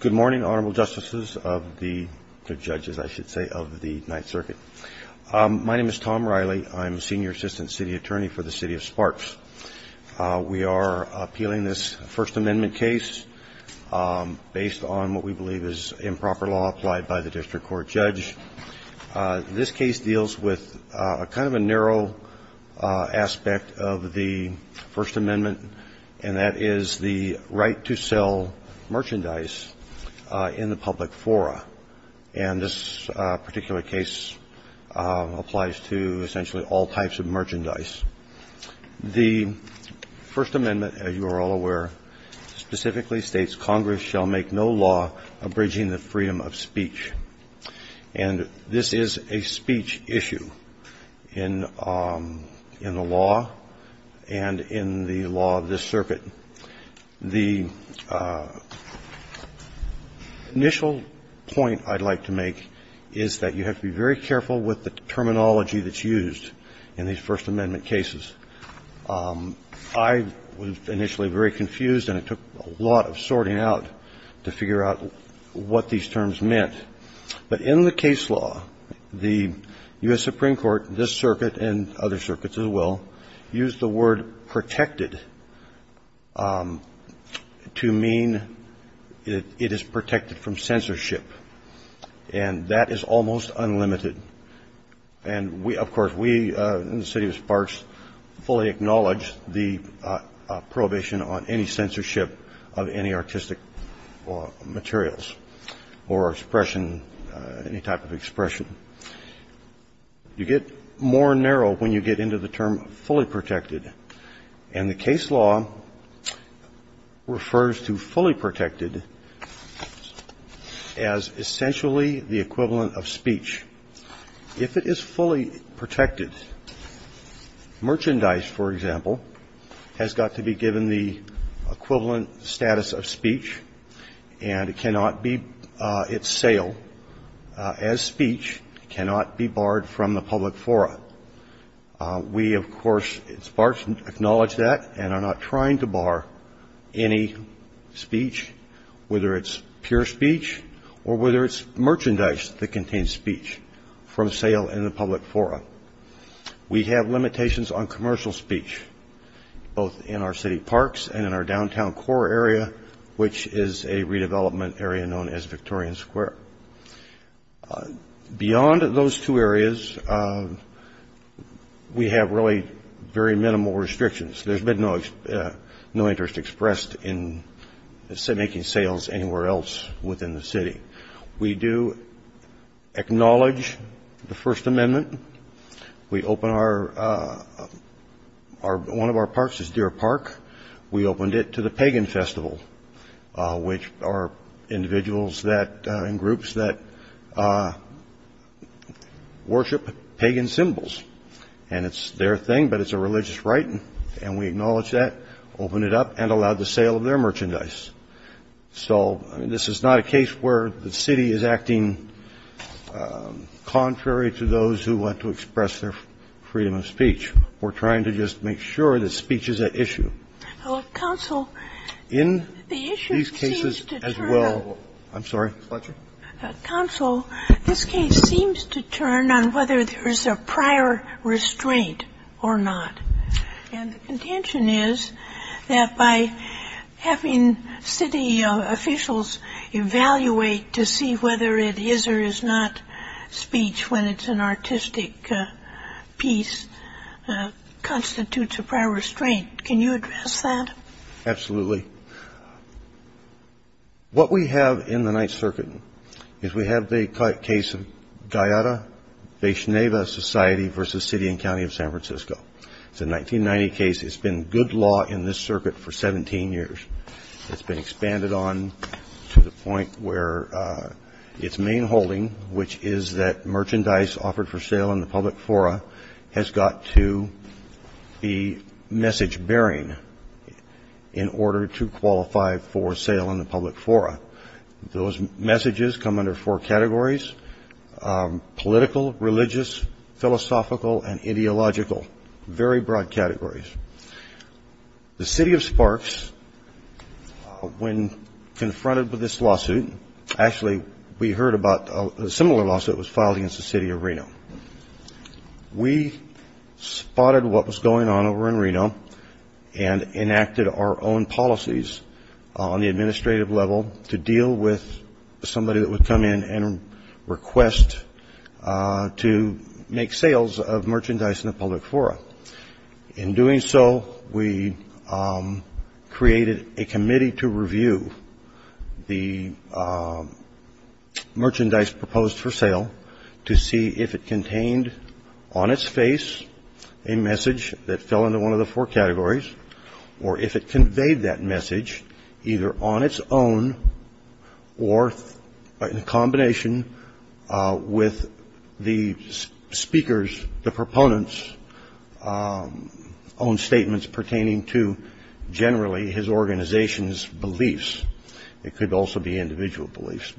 Good morning, Honorable Justices of the Judges, I should say, of the Ninth Circuit. My name is Tom Riley. I'm Senior Assistant City Attorney for the City of Sparks. We are appealing this First Amendment case based on what we believe is improper law applied by the District Court judge. This case deals with kind of a narrow aspect of the First Amendment, and that is the right to sell merchandise in the public fora. And this particular case applies to essentially all types of merchandise. The First Amendment, as you are all aware, specifically states Congress shall make no law abridging the freedom of speech. And this is a speech issue in the law and in the law of this circuit. The initial point I'd like to make is that you have to be very careful with the terminology that's used in these First Amendment cases. I was initially very confused, and it took a lot of sorting out to figure out what these terms meant. But in the case law, the U.S. Supreme Court, this circuit and other circuits as well, used the word protected to mean it is protected from censorship. And that is almost unlimited. And, of course, we in the City of Sparks fully acknowledge the prohibition on any censorship of any artistic materials or expression, any type of expression. You get more narrow when you get into the term fully protected. And the case law refers to fully protected as essentially the equivalent of speech. If it is fully protected, merchandise, for example, has got to be given the equivalent status of speech, and it cannot be its sale as speech cannot be barred from the public forum. We, of course, at Sparks, acknowledge that and are not trying to bar any speech, whether it's pure speech or whether it's merchandise that contains speech from sale in the public forum. We have limitations on commercial speech, both in our city parks and in our downtown core area, which is a redevelopment area known as Victorian Square. Beyond those two areas, we have really very minimal restrictions. There's been no interest expressed in making sales anywhere else within the city. We do acknowledge the First Amendment. One of our parks is Deer Park. We opened it to the Pagan Festival, which are individuals and groups that worship pagan symbols. And it's their thing, but it's a religious rite, and we acknowledge that, opened it up, and allowed the sale of their merchandise. So this is not a case where the city is acting contrary to those who want to express their freedom of speech. We're trying to just make sure that speech is at issue. In these cases as well, I'm sorry. Sotomayor, this case seems to turn on whether there is a prior restraint or not. And the contention is that by having city officials evaluate to see whether it is or is not speech when it's an artistic piece constitutes a prior restraint. Can you address that? Absolutely. What we have in the Ninth Circuit is we have the case of Guyada-Vaishnava Society versus City and County of San Francisco. It's a 1990 case. It's been good law in this circuit for 17 years. It's been expanded on to the point where its main holding, which is that merchandise offered for sale in the public fora, has got to be message-bearing in order to qualify for sale in the public fora. Those messages come under four categories, political, religious, philosophical, and ideological, very broad categories. The City of Sparks, when confronted with this lawsuit, actually we heard about a similar lawsuit was filed against the City of Reno. We spotted what was going on over in Reno and enacted our own policies on the administrative level to deal with somebody that would come in and request to make sales of merchandise in the public fora. In doing so, we created a committee to review the merchandise proposed for sale to see if it contained on its face a message that fell into one of the four categories or if it conveyed that message either on its own or in combination with the speakers, the proponents' own statements pertaining to generally his organization's beliefs. It could also be individual beliefs.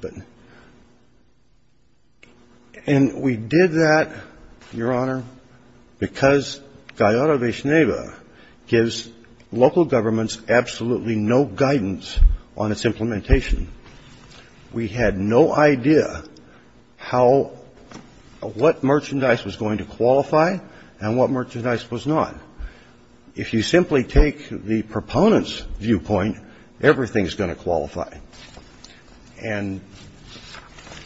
And we did that, Your Honor, because Gallardo de Cheneva gives local governments absolutely no guidance on its implementation. We had no idea how or what merchandise was going to qualify and what merchandise was not. If you simply take the proponents' viewpoint, everything is going to qualify. And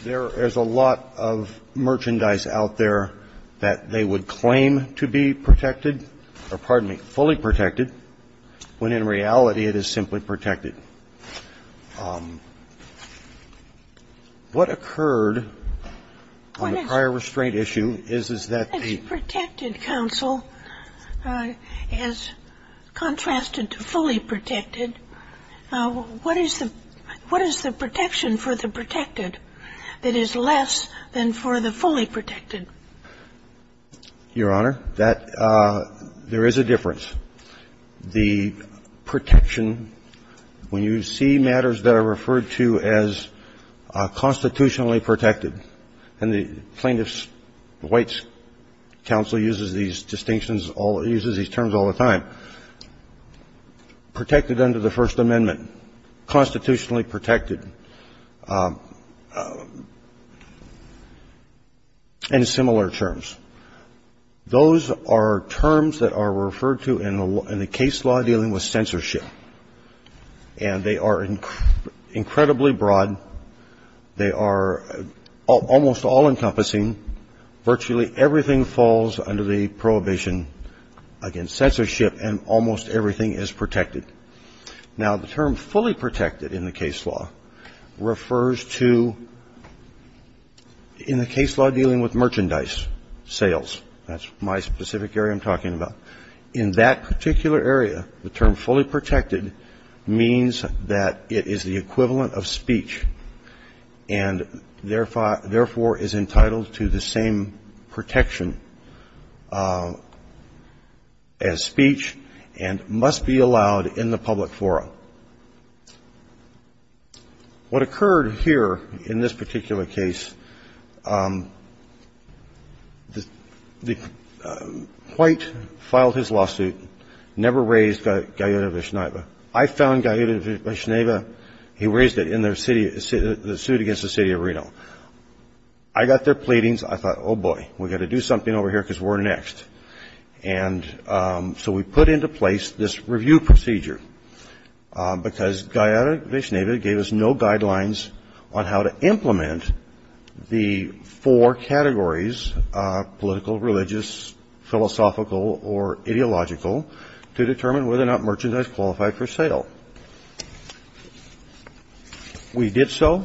there is a lot of merchandise out there that they would claim to be protected or, pardon me, fully protected, when in reality it is simply protected. What occurred on the prior restraint issue is, is that the ---- If the protected counsel, as contrasted to fully protected, what is the protection for the protected that is less than for the fully protected? Your Honor, that ---- there is a difference. The protection ---- when you see matters that are referred to as constitutionally protected, and the plaintiff's, the White's counsel uses these distinctions, uses these terms all the time, protected under the First Amendment, constitutionally protected, and similar terms. Those are terms that are referred to in the case law dealing with censorship. And they are incredibly broad. They are almost all-encompassing. Virtually everything falls under the prohibition against censorship, and almost everything is protected. Now, the term fully protected in the case law refers to, in the case law dealing with merchandise sales. That's my specific area I'm talking about. In that particular area, the term fully protected means that it is the equivalent of speech and, therefore, is entitled to the same protection as speech and must be allowed in the public forum. What occurred here in this particular case, the ---- White filed his lawsuit, never raised Gallaudet v. Schneeve. I found Gallaudet v. Schneeve. He raised it in their city ---- the suit against the city of Reno. I got their pleadings. I thought, oh, boy, we've got to do something over here because we're next. And so we put into place this review procedure because Gallaudet v. Schneeve gave us no guidelines on how to implement the four categories, political, religious, philosophical, or ideological, to determine whether or not merchandise qualified for sale. We did so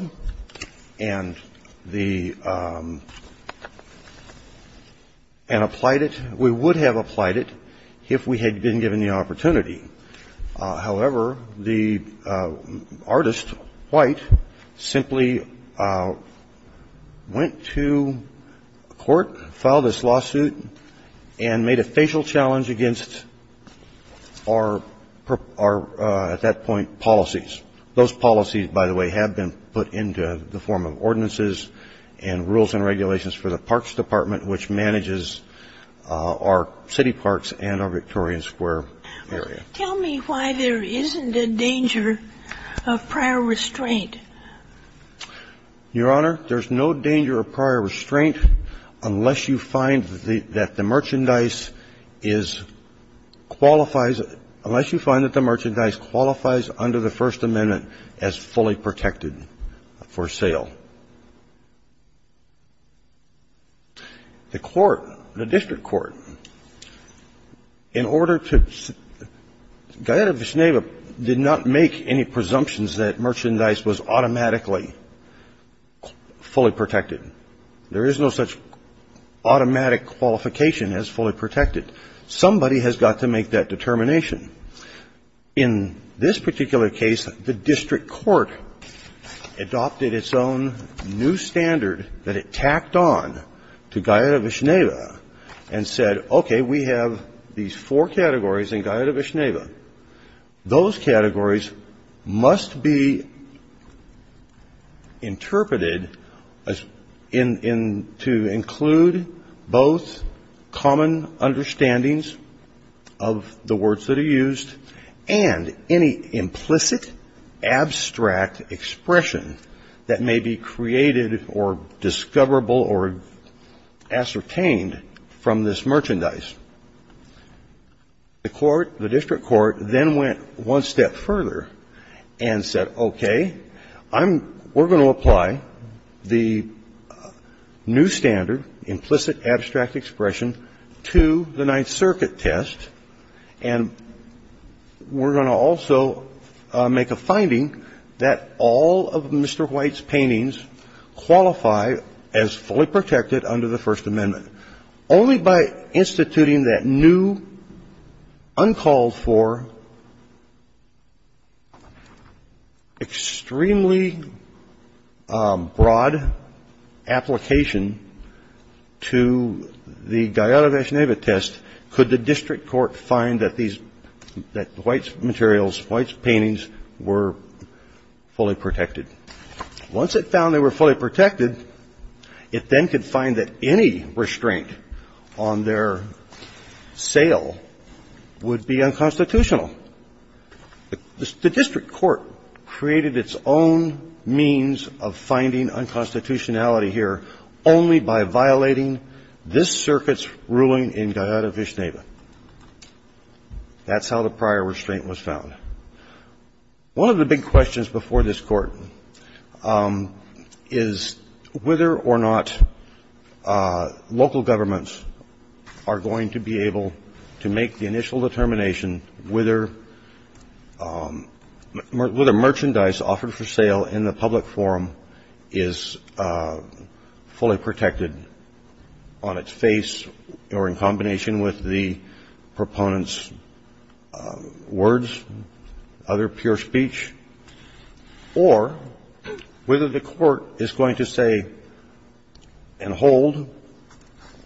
and the ---- and applied it. We would have applied it if we had been given the opportunity. However, the artist, White, simply went to court, filed this lawsuit, and made a facial against our, at that point, policies. Those policies, by the way, have been put into the form of ordinances and rules and regulations for the Parks Department, which manages our city parks and our Victorian Square area. Tell me why there isn't a danger of prior restraint. Your Honor, there's no danger of prior restraint unless you find that the merchandise is ---- qualifies ---- unless you find that the merchandise qualifies under the First Amendment as fully protected for sale. The court, the district court, in order to ---- Gallaudet v. Schneeve did not make any presumptions that merchandise was automatically fully protected. There is no such automatic qualification as fully protected. Somebody has got to make that determination. In this particular case, the district court adopted its own new standard that it tacked on to Gallaudet v. Schneeve and said, okay, we have these four categories in Gallaudet v. Schneeve. Those categories must be interpreted in ---- to include both common understandings of the words that are used and any implicit, abstract expression that may be created or discoverable or ascertained from this merchandise. The court, the district court, then went one step further and said, okay, I'm ---- we're going to apply the new standard, implicit abstract expression, to the Ninth Circuit test, and we're going to also make a finding that all of Mr. White's paintings qualify as fully protected under the First Amendment. Only by instituting that new, uncalled for, extremely broad application to the Gallaudet v. Schneeve test could the district court find that these ---- that White's materials, White's paintings were fully protected. Once it found they were fully protected, it then could find that any restraint on their sale would be unconstitutional. The district court created its own means of finding unconstitutionality here only by violating this circuit's ruling in Gallaudet v. Schneeve. That's how the prior restraint was found. One of the big questions before this Court is whether or not local governments are going to be able to make the initial determination whether merchandise offered for sale in the public forum is fully protected on its face or in combination with the proponent's words, other pure speech, or whether the Court is going to say and hold,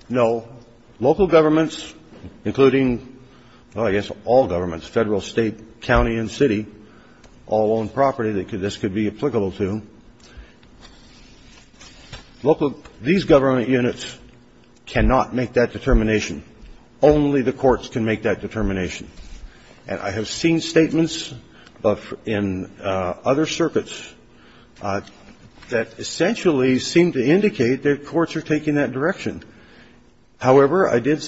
no, local governments, including, well, I guess all governments, Federal, State, county, and city, all own property that this could be applicable to, local government units cannot make that determination. Only the courts can make that determination. And I have seen statements in other circuits that essentially seem to indicate that courts are taking that direction. However, I did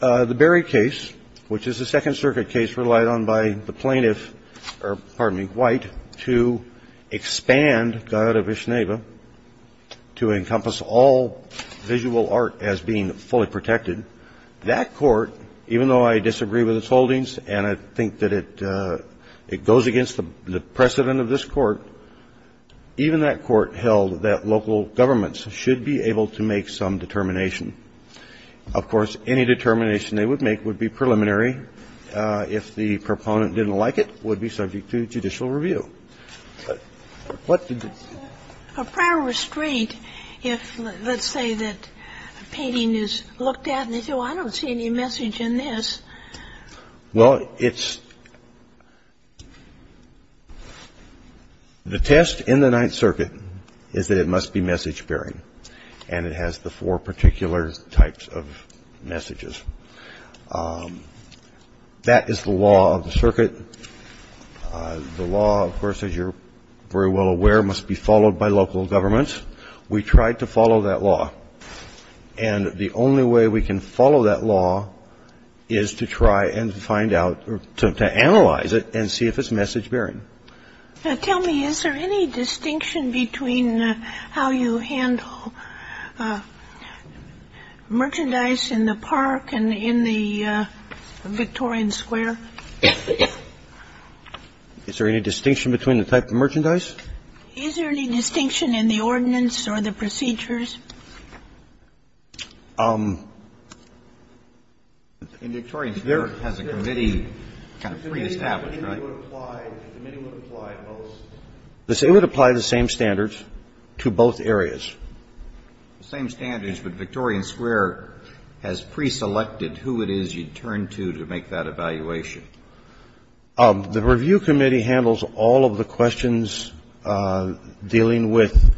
the Berry case, which is a Second Circuit case relied on by the plaintiff White to expand Gallaudet v. Schneeve to encompass all visual art as being fully protected. That court, even though I disagree with its holdings and I think that it goes against the precedent of this court, even that court held that local governments should be able to make some determination. Of course, any determination they would make would be preliminary. If the proponent didn't like it, would be subject to judicial review. What did the ---- A prior restraint if, let's say, that a painting is looked at and they say, well, I don't see any message in this. Well, it's the test in the Ninth Circuit is that it must be message-bearing, that is the law of the circuit. The law, of course, as you're very well aware, must be followed by local governments. We tried to follow that law. And the only way we can follow that law is to try and find out or to analyze it and see if it's message-bearing. Tell me, is there any distinction between how you handle merchandise in the park and in the Victorian Square? Is there any distinction between the type of merchandise? Is there any distinction in the ordinance or the procedures? In Victorian Square, it has a committee kind of pre-established, right? The committee would apply both. It would apply the same standards to both areas. The same standards, but Victorian Square has pre-selected who it is you'd turn to to make that evaluation. The review committee handles all of the questions dealing with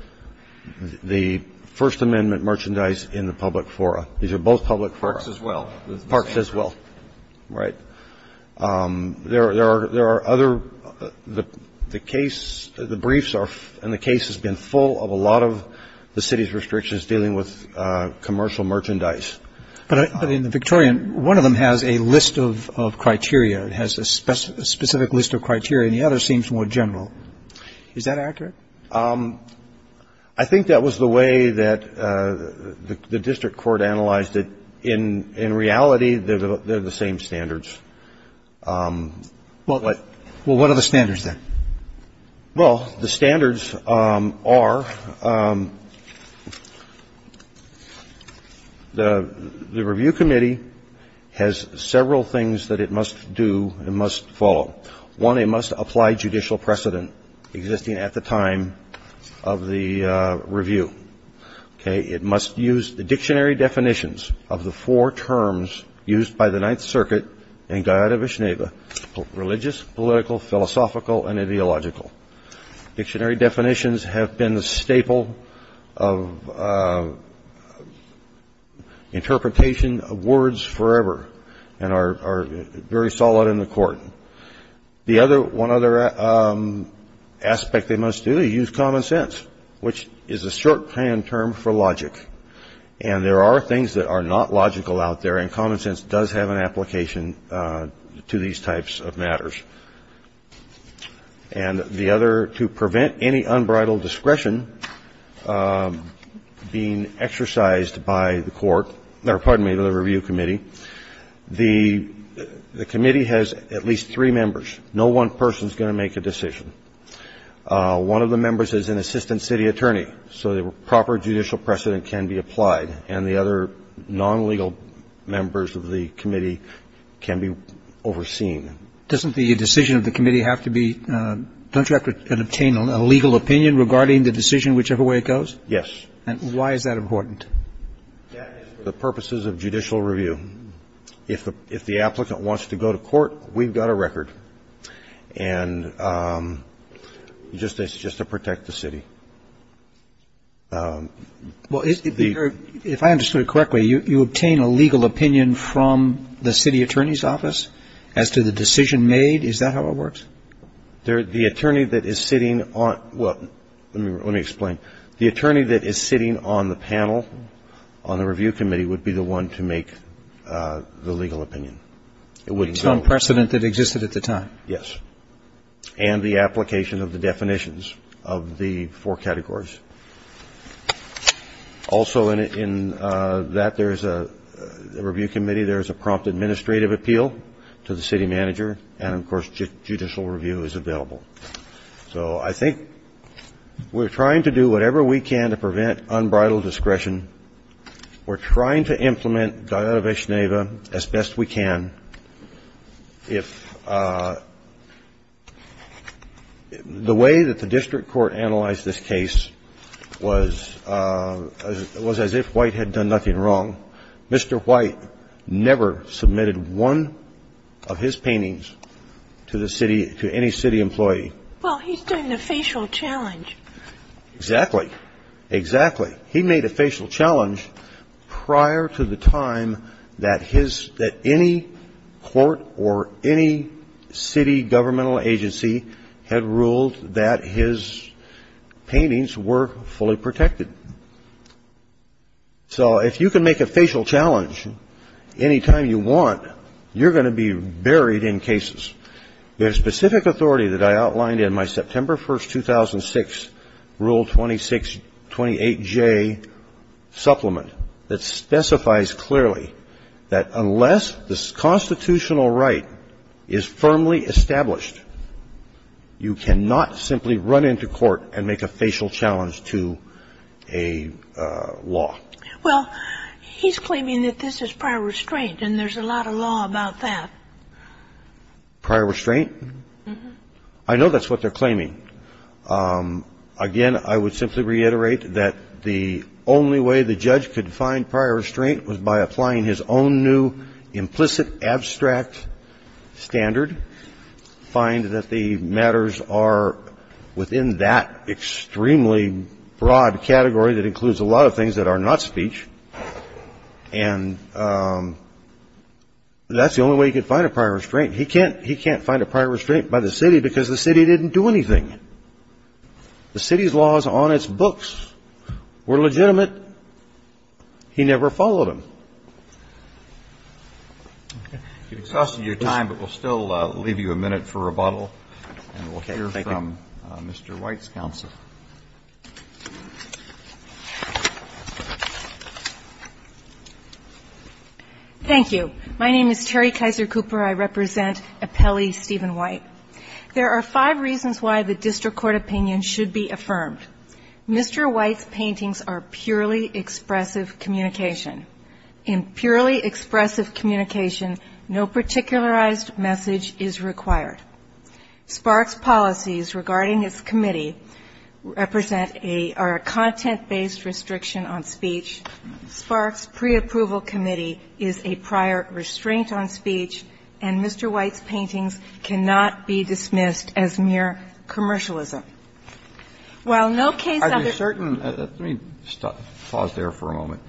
the First Amendment merchandise in the public fora. These are both public fora. Parks as well. Parks as well. Right. There are other, the briefs and the case has been full of a lot of the city's restrictions dealing with commercial merchandise. But in the Victorian, one of them has a list of criteria. It has a specific list of criteria, and the other seems more general. Is that accurate? I think that was the way that the district court analyzed it. In reality, they're the same standards. Well, what are the standards then? Well, the standards are, the review committee has several things that it must do and must follow. One, it must apply judicial precedent existing at the time of the review. Okay. It must use the dictionary definitions of the four terms used by the Ninth Circuit in Guayana-Vicenega, religious, political, philosophical, and ideological. Dictionary definitions have been the staple of interpretation of words forever and are very solid in the court. One other aspect they must do, use common sense, which is a short-hand term for logic. And there are things that are not logical out there, and common sense does have an application to these types of matters. And the other, to prevent any unbridled discretion being exercised by the court or, pardon me, the review committee, the committee has at least three members. No one person is going to make a decision. One of the members is an assistant city attorney. So the proper judicial precedent can be applied. And the other non-legal members of the committee can be overseen. Doesn't the decision of the committee have to be, don't you have to obtain a legal opinion regarding the decision whichever way it goes? Yes. And why is that important? That is for the purposes of judicial review. If the applicant wants to go to court, we've got a record. And just to protect the city. Well, if I understood it correctly, you obtain a legal opinion from the city attorney's office as to the decision made? Is that how it works? The attorney that is sitting on, well, let me explain. The attorney that is sitting on the panel on the review committee would be the one to make the legal opinion. It's on precedent that existed at the time. Yes. And the application of the definitions of the four categories. Also in that there's a review committee, there's a prompt administrative appeal to the city manager. And, of course, judicial review is available. So I think we're trying to do whatever we can to prevent unbridled discretion. We're trying to implement Diodoveshneva as best we can. If the way that the district court analyzed this case was as if White had done nothing wrong. Mr. White never submitted one of his paintings to the city, to any city employee. Well, he's doing a facial challenge. Exactly. Exactly. He made a facial challenge prior to the time that any court or any city governmental agency had ruled that his paintings were fully protected. So if you can make a facial challenge any time you want, you're going to be buried in cases. There's specific authority that I outlined in my September 1, 2006, Rule 2628J supplement that specifies clearly that unless the constitutional right is firmly established, you cannot simply run into court and make a facial challenge to a law. Well, he's claiming that this is prior restraint, and there's a lot of law about that. Prior restraint? Mm-hmm. I know that's what they're claiming. Again, I would simply reiterate that the only way the judge could find prior restraint was by applying his own new implicit, abstract standard, find that the matters are within that extremely broad category that includes a lot of things that are not speech. And that's the only way he could find a prior restraint. He can't find a prior restraint by the city because the city didn't do anything. The city's laws on its books were legitimate. But he never followed them. Okay. We've exhausted your time, but we'll still leave you a minute for rebuttal. And we'll hear from Mr. White's counsel. Thank you. My name is Terry Kaiser Cooper. I represent Appelli Stephen White. There are five reasons why the district court opinion should be affirmed. Mr. White's paintings are purely expressive communication. In purely expressive communication, no particularized message is required. SPARC's policies regarding its committee represent a or a content-based restriction on speech. SPARC's preapproval committee is a prior restraint on speech. And Mr. White's paintings cannot be dismissed as mere commercialism. While no case of the ---- Are you certain? Let me pause there for a moment.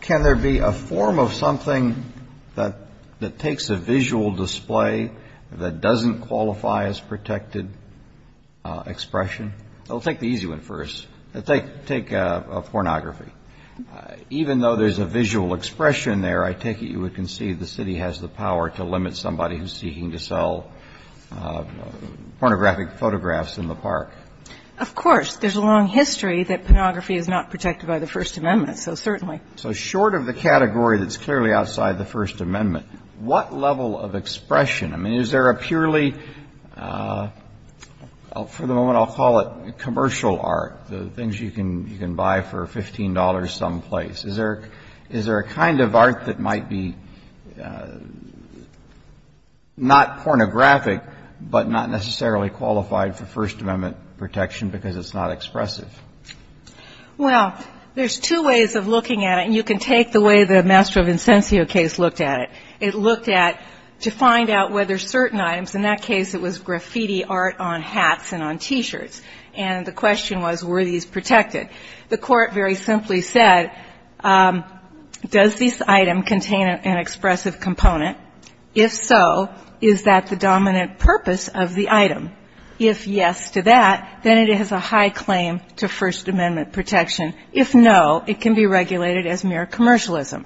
Can there be a form of something that takes a visual display that doesn't qualify as protected expression? I'll take the easy one first. Take pornography. Even though there's a visual expression there, I take it you would concede the city has the power to limit somebody who's seeking to sell pornographic photographs in the park. Of course. There's a long history that pornography is not protected by the First Amendment, so certainly. So short of the category that's clearly outside the First Amendment, what level of expression ---- I mean, is there a purely, for the moment I'll call it commercial art, the things you can buy for $15 someplace? Is there a kind of art that might be not pornographic, but not necessarily qualified for First Amendment protection because it's not expressive? Well, there's two ways of looking at it, and you can take the way the Master of Incensio case looked at it. It looked at, to find out whether certain items, in that case it was graffiti art on hats and on T-shirts. And the question was, were these protected? The court very simply said, does this item contain an expressive component? If so, is that the dominant purpose of the item? If yes to that, then it has a high claim to First Amendment protection. If no, it can be regulated as mere commercialism.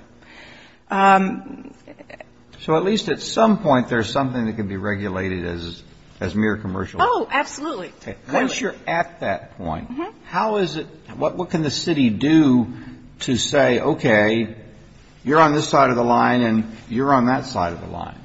So at least at some point there's something that can be regulated as mere commercialism. Oh, absolutely. Once you're at that point, how is it, what can the city do to say, okay, you're on this side of the line and you're on that side of the line?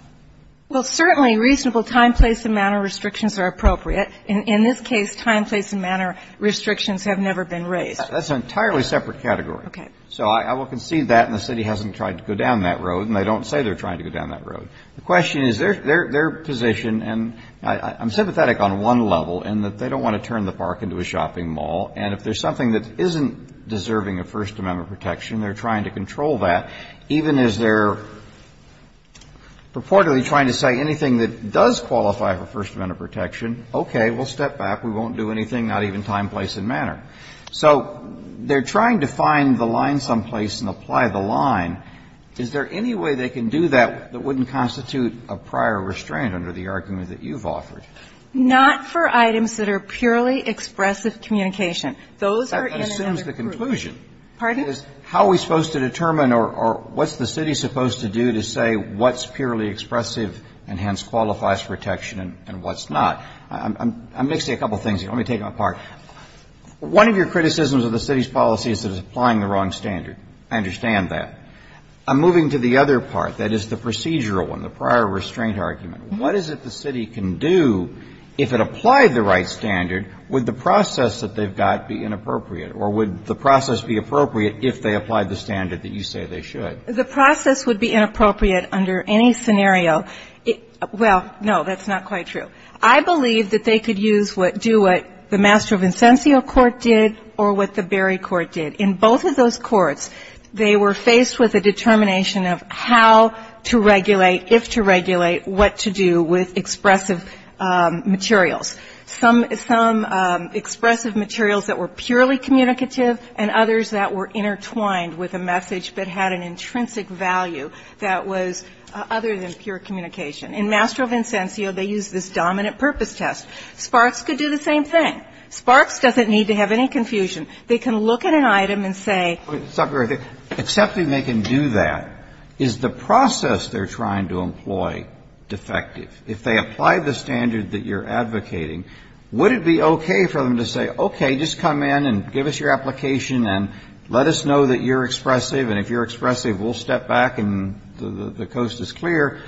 Well, certainly reasonable time, place and manner restrictions are appropriate. In this case, time, place and manner restrictions have never been raised. That's an entirely separate category. Okay. So I will concede that, and the city hasn't tried to go down that road, and I don't say they're trying to go down that road. The question is, their position, and I'm sympathetic on one level in that they don't want to turn the park into a shopping mall. And if there's something that isn't deserving of First Amendment protection, they're trying to control that. Even as they're purportedly trying to say anything that does qualify for First Amendment protection, okay, we'll step back. We won't do anything, not even time, place and manner. So they're trying to find the line someplace and apply the line. Is there any way they can do that that wouldn't constitute a prior restraint under the argument that you've offered? Not for items that are purely expressive communication. Those are in another group. That assumes the conclusion. Pardon? How are we supposed to determine or what's the city supposed to do to say what's purely expressive and hence qualifies for protection and what's not? I'm mixing a couple of things here. Let me take them apart. One of your criticisms of the city's policy is that it's applying the wrong standard. I understand that. I'm moving to the other part. That is the procedural one, the prior restraint argument. What is it the city can do if it applied the right standard? Would the process that they've got be inappropriate? Or would the process be appropriate if they applied the standard that you say they should? The process would be inappropriate under any scenario. Well, no, that's not quite true. I believe that they could use what do what the Mastro Vincenzio court did or what the Berry court did. In both of those courts, they were faced with a determination of how to regulate, if to regulate, what to do with expressive materials. Some expressive materials that were purely communicative and others that were intertwined with a message but had an intrinsic value that was other than pure communication. In Mastro Vincenzio, they used this dominant purpose test. Sparks could do the same thing. Sparks doesn't need to have any confusion. They can look at an item and say. Except they can do that. Is the process they're trying to employ defective? If they apply the standard that you're advocating, would it be okay for them to say, okay, just come in and give us your application and let us know that you're expressive and if you're expressive, we'll step back and the coast is clear.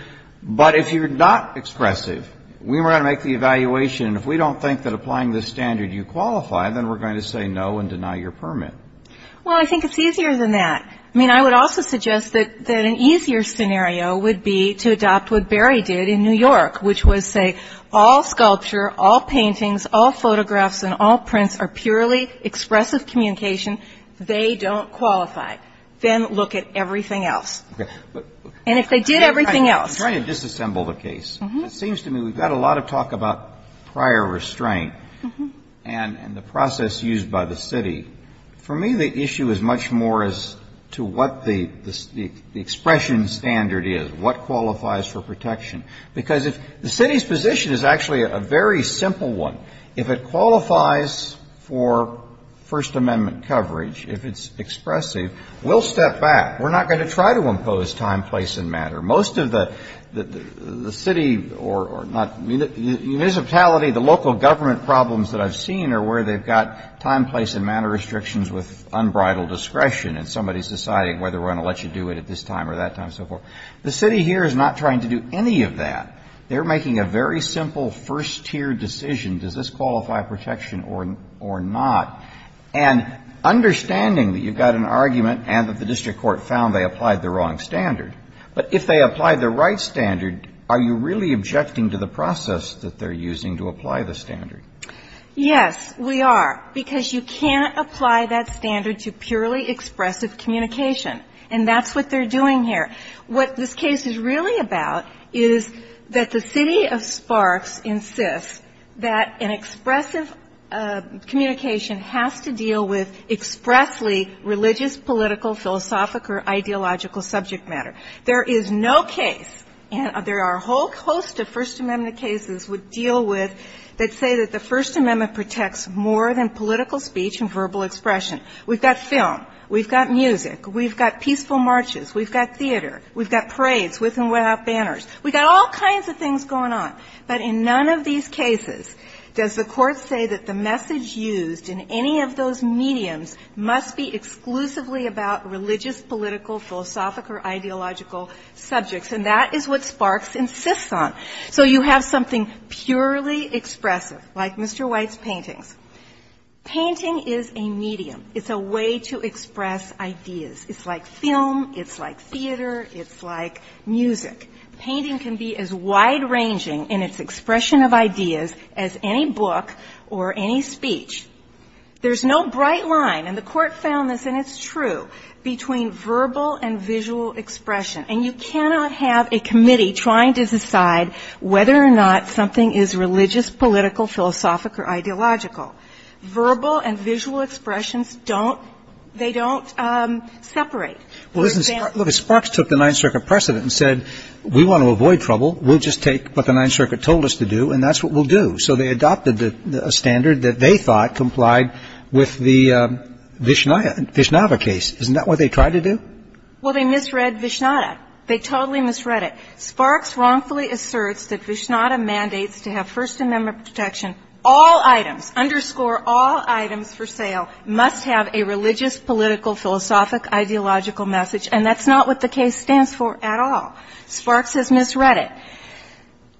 But if you're not expressive, we were going to make the evaluation and if we don't think that applying the standard you qualify, then we're going to say no and deny your permit. Well, I think it's easier than that. I mean, I would also suggest that an easier scenario would be to adopt what Berry did in New York, which was say all sculpture, all paintings, all photographs and all prints are purely expressive communication. They don't qualify. Then look at everything else. And if they did everything else. I'm trying to disassemble the case. It seems to me we've got a lot of talk about prior restraint and the process used by the city. For me, the issue is much more as to what the expression standard is, what qualifies for protection. Because if the city's position is actually a very simple one. If it qualifies for First Amendment coverage, if it's expressive, we'll step back. We're not going to try to impose time, place and matter. Most of the city or not municipality, the local government problems that I've seen are where they've got time, place and matter restrictions with unbridled discretion and somebody's deciding whether we're going to let you do it at this time or that time and so forth. The city here is not trying to do any of that. They're making a very simple first tier decision, does this qualify protection or not? And understanding that you've got an argument and that the district court found they applied the wrong standard. But if they apply the right standard, are you really objecting to the process that they're using to apply the standard? Yes, we are. Because you can't apply that standard to purely expressive communication. And that's what they're doing here. What this case is really about is that the city of Sparks insists that an expressive communication has to deal with expressly religious, political, philosophical or ideological subject matter. There is no case, and there are a whole host of First Amendment cases we deal with that say that the First Amendment protects more than political speech and verbal expression. We've got film. We've got music. We've got peaceful marches. We've got theater. We've got parades with and without banners. We've got all kinds of things going on. But in none of these cases does the Court say that the message used in any of those mediums must be exclusively about religious, political, philosophical or ideological subjects. And that is what Sparks insists on. So you have something purely expressive, like Mr. White's paintings. Painting is a medium. It's a way to express ideas. It's like film. It's like theater. It's like music. Painting can be as wide-ranging in its expression of ideas as any book or any speech. There's no bright line, and the Court found this, and it's true, between verbal and visual expression. And you cannot have a committee trying to decide whether or not something is religious, political, philosophic or ideological. Verbal and visual expressions don't, they don't separate. Look, Sparks took the Ninth Circuit precedent and said, we want to avoid trouble. We'll just take what the Ninth Circuit told us to do, and that's what we'll do. So they adopted a standard that they thought complied with the Vishnada case. Isn't that what they tried to do? Well, they misread Vishnada. They totally misread it. Sparks wrongfully asserts that Vishnada mandates to have First Amendment protection. All items, underscore all items for sale, must have a religious, political, philosophic, ideological message, and that's not what the case stands for at all. Sparks has misread it.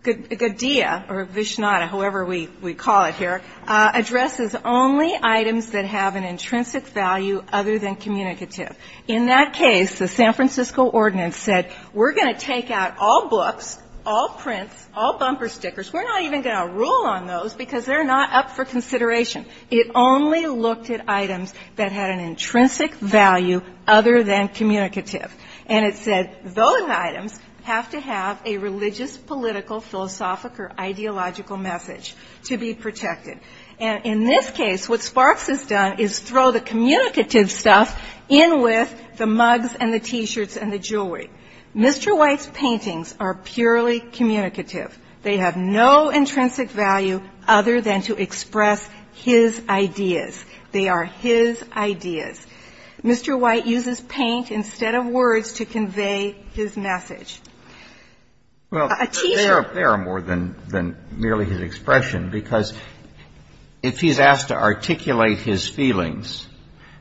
Godea or Vishnada, however we call it here, addresses only items that have an intrinsic value other than communicative. In that case, the San Francisco ordinance said, we're going to take out all books, all prints, all bumper stickers. We're not even going to rule on those because they're not up for consideration. It only looked at items that had an intrinsic value other than communicative. And it said those items have to have a religious, political, philosophic or ideological message to be protected. And in this case, what Sparks has done is throw the communicative stuff in with the mugs and the T-shirts and the jewelry. Mr. White's paintings are purely communicative. They have no intrinsic value other than to express his ideas. They are his ideas. Mr. White uses paint instead of words to convey his message. A T-shirt. Well, there are more than merely his expression, because if he's asked to articulate his feelings,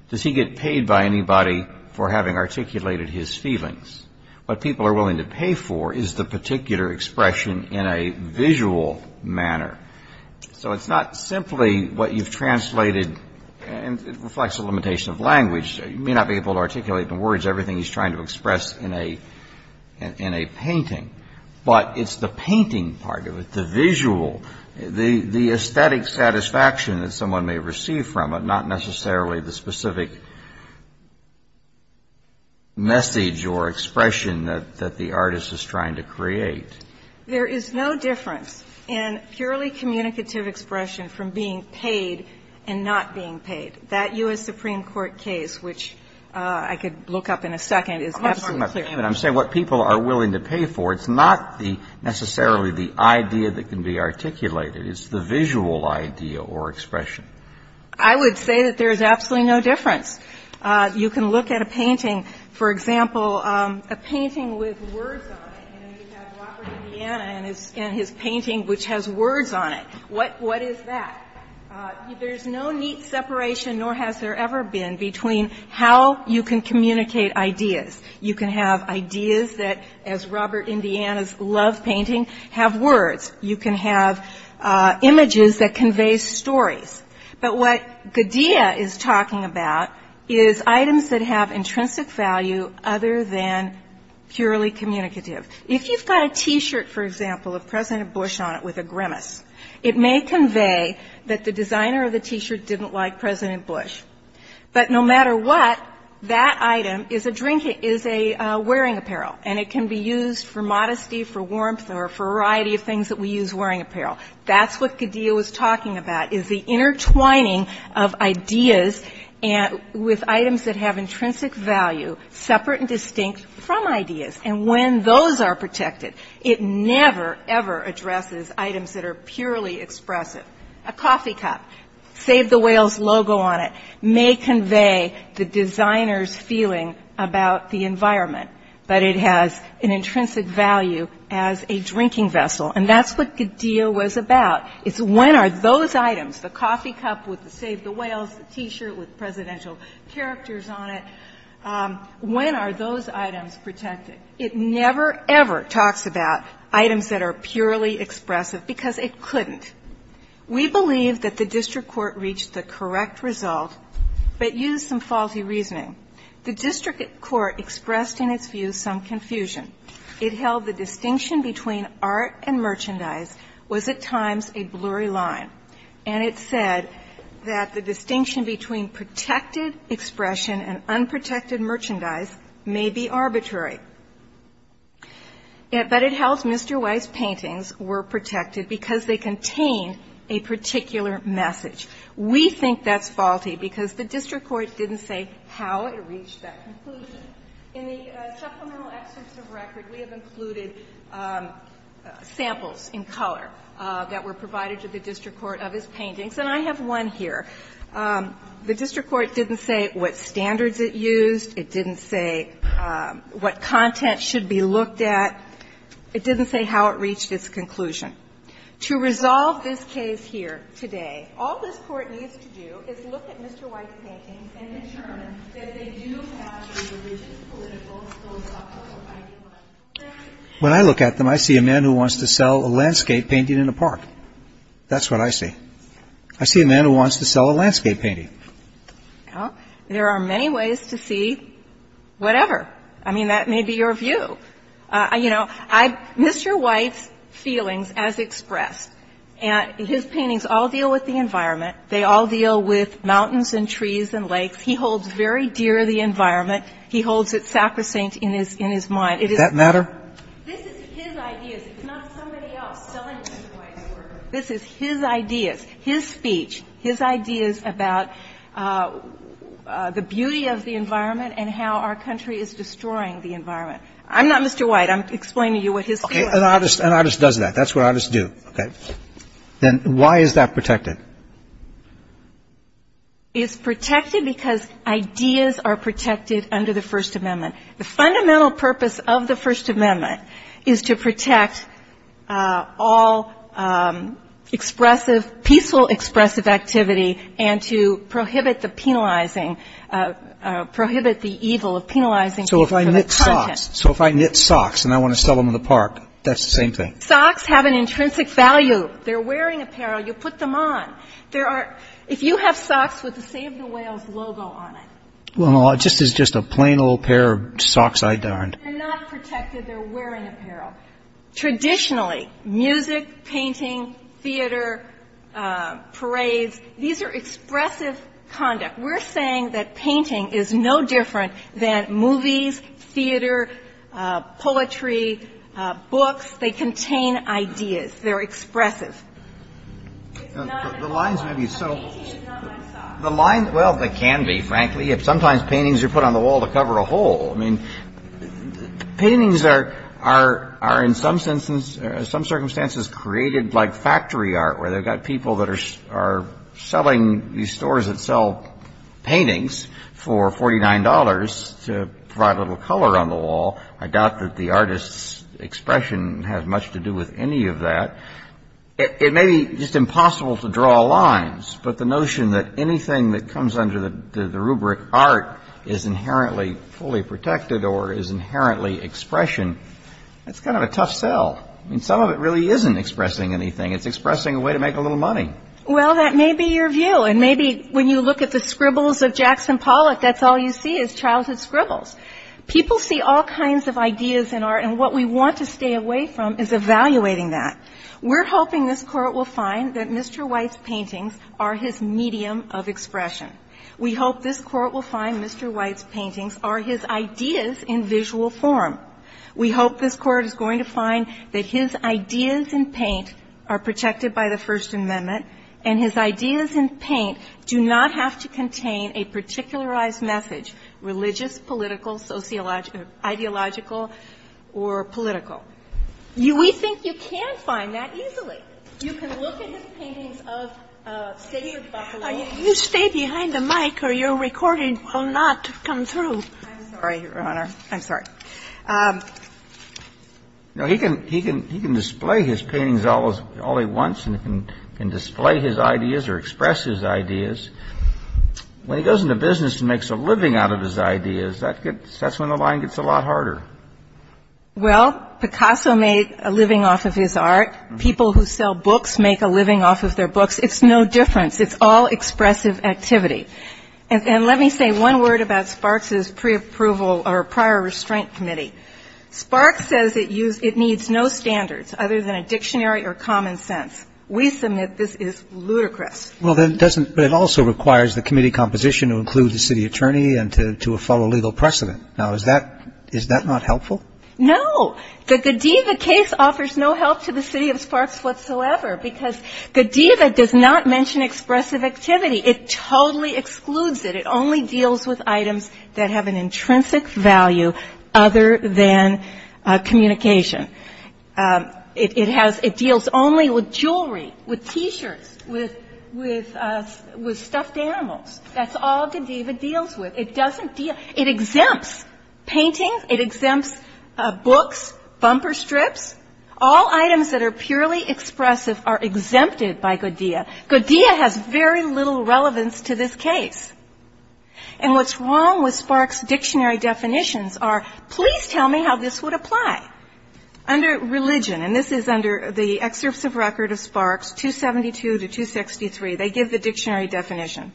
does he get paid by anybody for having articulated his feelings? What people are willing to pay for is the particular expression in a visual manner. So it's not simply what you've translated. And it reflects a limitation of language. You may not be able to articulate in words everything he's trying to express in a painting. But it's the painting part of it, the visual, the aesthetic satisfaction that someone may receive from it, not necessarily the specific message or expression that the artist is trying to create. There is no difference in purely communicative expression from being paid and not being paid. That U.S. Supreme Court case, which I could look up in a second, is absolutely clear. I'm saying what people are willing to pay for. It's not necessarily the idea that can be articulated. It's the visual idea or expression. I would say that there is absolutely no difference. You can look at a painting, for example, a painting with words on it, and you have Robert Indiana and his painting, which has words on it. What is that? There's no neat separation, nor has there ever been, between how you can communicate ideas. You can have ideas that, as Robert Indiana's love painting, have words. You can have images that convey stories. But what Gaudia is talking about is items that have intrinsic value other than purely communicative. If you've got a T-shirt, for example, of President Bush on it with a grimace, it may convey that the designer of the T-shirt didn't like President Bush. But no matter what, that item is a wearing apparel, and it can be used for modesty, for warmth, or a variety of things that we use wearing apparel. That's what Gaudia was talking about is the intertwining of ideas with items that have intrinsic value, separate and distinct from ideas. And when those are protected, it never, ever addresses items that are purely expressive. A coffee cup, save the whale's logo on it, may convey the designer's feeling about the environment. But it has an intrinsic value as a drinking vessel. And that's what Gaudia was about. It's when are those items, the coffee cup with the save the whales, the T-shirt with presidential characters on it, when are those items protected? It never, ever talks about items that are purely expressive because it couldn't. We believe that the district court reached the correct result, but used some faulty reasoning. The district court expressed in its view some confusion. It held the distinction between art and merchandise was at times a blurry line, and it said that the distinction between protected expression and unprotected merchandise may be arbitrary. But it held Mr. White's paintings were protected because they contained a particular message. We think that's faulty because the district court didn't say how it reached that conclusion. In the supplemental excerpts of record, we have included samples in color that were provided to the district court of his paintings. And I have one here. The district court didn't say what standards it used. It didn't say what content should be looked at. It didn't say how it reached its conclusion. To resolve this case here today, all this Court needs to do is look at Mr. White's paintings and determine that they do have a religious, political, philosophical identity. When I look at them, I see a man who wants to sell a landscape painting in a park. That's what I see. I see a man who wants to sell a landscape painting. Well, there are many ways to see whatever. I mean, that may be your view. You know, Mr. White's feelings as expressed. His paintings all deal with the environment. They all deal with mountains and trees and lakes. He holds very dear the environment. He holds it sacrosanct in his mind. It is not his ideas. It's not somebody else selling Mr. White's work. This is his ideas, his speech, his ideas about the beauty of the environment and how our country is destroying the environment. I'm not Mr. White. I'm explaining to you what his feelings are. Okay. An artist does that. That's what artists do. Okay. Then why is that protected? It's protected because ideas are protected under the First Amendment. The fundamental purpose of the First Amendment is to protect all expressive, peaceful expressive activity and to prohibit the penalizing, prohibit the evil of penalizing people for their content. So if I knit socks and I want to sell them in the park, that's the same thing? Socks have an intrinsic value. They're wearing apparel. You put them on. If you have socks with the Save the Whales logo on it. Well, it's just a plain old pair of socks I darned. They're not protected. They're wearing apparel. Traditionally, music, painting, theater, parades, these are expressive conduct. We're saying that painting is no different than movies, theater, poetry, books. They contain ideas. They're expressive. The lines may be so. Well, they can be, frankly. Sometimes paintings are put on the wall to cover a hole. I mean, paintings are in some circumstances created like factory art, where they've got people that are selling these stores that sell paintings for $49 to provide a little color on the wall. I doubt that the artist's expression has much to do with any of that. It may be just impossible to draw lines, but the notion that anything that comes under the rubric art is inherently fully protected or is inherently expression, that's kind of a tough sell. I mean, some of it really isn't expressing anything. It's expressing a way to make a little money. Well, that may be your view. And maybe when you look at the scribbles of Jackson Pollock, that's all you see is childhood scribbles. People see all kinds of ideas in art, and what we want to stay away from is evaluating that. We're hoping this Court will find that Mr. White's paintings are his medium of expression. We hope this Court will find Mr. White's paintings are his ideas in visual form. We hope this Court is going to find that his ideas in paint are protected by the First Amendment, and his ideas in paint do not have to contain a particularized message, religious, political, ideological, or political. We think you can find that easily. You can look at his paintings of Sacred Buffalo. You stay behind the mic or your recording will not come through. I'm sorry, Your Honor. I'm sorry. No, he can display his paintings all he wants and can display his ideas or express his ideas. When he goes into business and makes a living out of his ideas, that's when the line gets a lot harder. Well, Picasso made a living off of his art. People who sell books make a living off of their books. It's no difference. It's all expressive activity. And let me say one word about Sparks' preapproval or prior restraint committee. Sparks says it needs no standards other than a dictionary or common sense. We submit this is ludicrous. Well, then it doesn't ñ but it also requires the committee composition to include the city attorney and to follow legal precedent. Now, is that not helpful? No. The Godiva case offers no help to the city of Sparks whatsoever because Godiva does not mention expressive activity. It totally excludes it. It only deals with items that have an intrinsic value other than communication. It has ñ it deals only with jewelry, with T-shirts, with stuffed animals. That's all Godiva deals with. It doesn't deal ñ it exempts paintings. It exempts books, bumper strips. All items that are purely expressive are exempted by Godiva. Godiva has very little relevance to this case. And what's wrong with Sparks' dictionary definitions are, please tell me how this would apply. Under religion, and this is under the excerpts of record of Sparks, 272 to 263, they give the dictionary definition.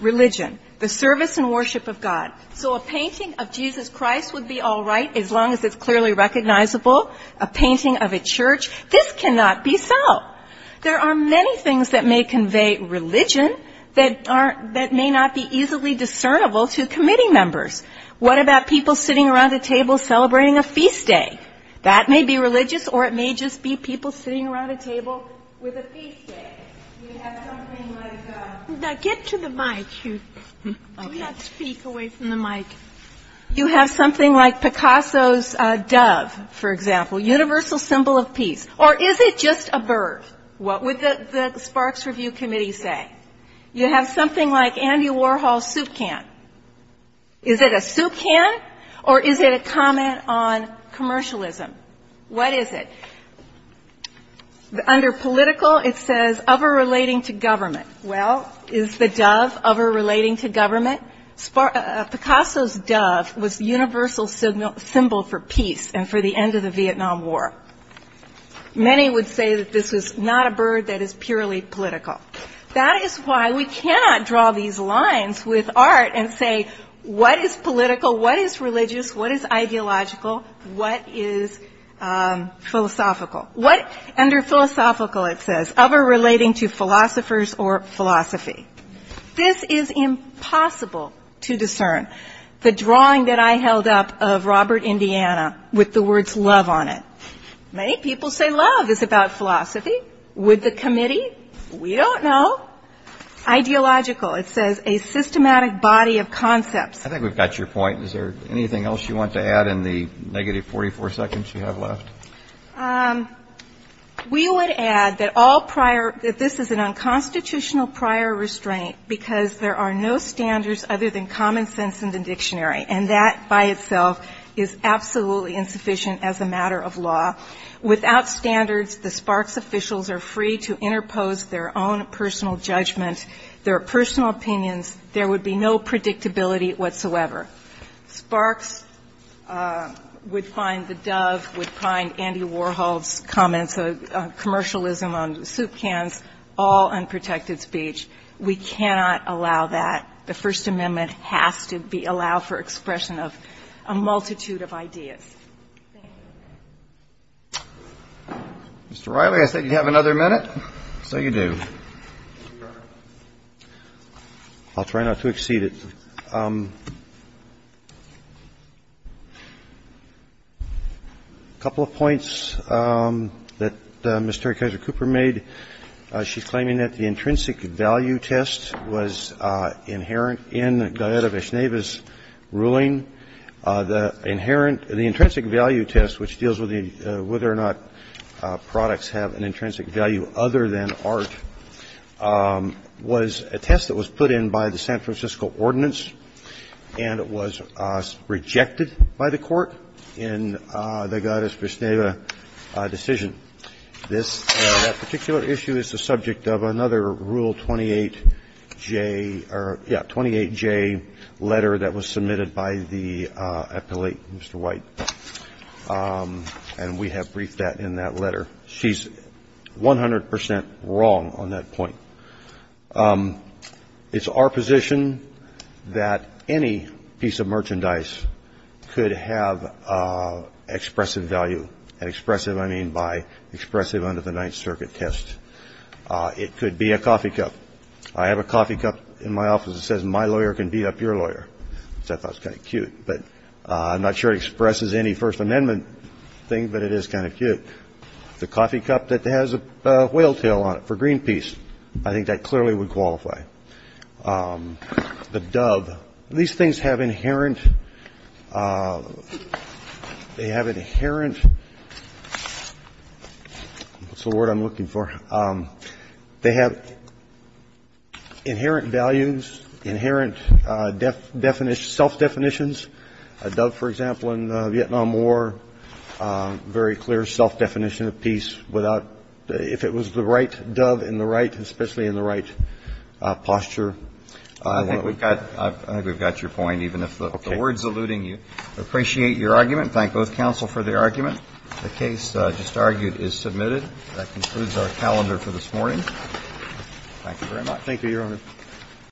Religion, the service and worship of God. So a painting of Jesus Christ would be all right as long as it's clearly recognizable. A painting of a church, this cannot be so. There are many things that may convey religion that may not be easily discernible to committee members. What about people sitting around a table celebrating a feast day? That may be religious or it may just be people sitting around a table with a feast day. You have something like a ñ Now get to the mic. Do not speak away from the mic. You have something like Picasso's dove, for example, universal symbol of peace. Or is it just a bird? What would the Sparks Review Committee say? You have something like Andy Warhol's soup can. Is it a soup can or is it a comment on commercialism? What is it? Under political, it says of or relating to government. Well, is the dove of or relating to government? Picasso's dove was universal symbol for peace and for the end of the Vietnam War. Many would say that this was not a bird that is purely political. That is why we cannot draw these lines with art and say what is political, what is religious, what is ideological, what is philosophical. Under philosophical, it says of or relating to philosophers or philosophy. This is impossible to discern. The drawing that I held up of Robert Indiana with the words love on it. Many people say love is about philosophy. Would the committee? We don't know. Ideological, it says a systematic body of concepts. I think we've got your point. Is there anything else you want to add in the negative 44 seconds you have left? We would add that all prior, that this is an unconstitutional prior restraint because there are no standards other than common sense in the dictionary. And that by itself is absolutely insufficient as a matter of law. Without standards, the Sparks officials are free to interpose their own personal judgment, their personal opinions. There would be no predictability whatsoever. Sparks would find the dove, would find Andy Warhol's comments of commercialism on soup cans all unprotected speech. We cannot allow that. The First Amendment has to be allowed for expression of a multitude of ideas. Thank you. Mr. Riley, I think you have another minute. So you do. I'll try not to exceed it. A couple of points that Mr. Kaiser-Cooper made. She's claiming that the intrinsic value test was inherent in Gallaudet-Vishneva's ruling. The inherent, the intrinsic value test, which deals with whether or not products have an intrinsic value other than art, was a test that was put in by the San Francisco Ordinance, and it was rejected by the Court in the Gallaudet-Vishneva decision. This particular issue is the subject of another Rule 28J or, yeah, 28J letter that was submitted by the appellate, Mr. White. And we have briefed that in that letter. She's 100 percent wrong on that point. It's our position that any piece of merchandise could have expressive value. And expressive, I mean by expressive under the Ninth Circuit test. It could be a coffee cup. I have a coffee cup in my office that says, my lawyer can beat up your lawyer, which I thought was kind of cute. But I'm not sure it expresses any First Amendment thing, but it is kind of cute. The coffee cup that has a whale tail on it for Greenpeace, I think that clearly would qualify. The dove, these things have inherent, they have inherent, what's the word I'm looking for? They have inherent values, inherent self-definitions. A dove, for example, in the Vietnam War, very clear self-definition of peace without if it was the right dove in the right, especially in the right posture. I think we've got your point, even if the word's eluding you. Appreciate your argument. Thank both counsel for the argument. The case just argued is submitted. That concludes our calendar for this morning. Thank you very much. Thank you, Your Honor.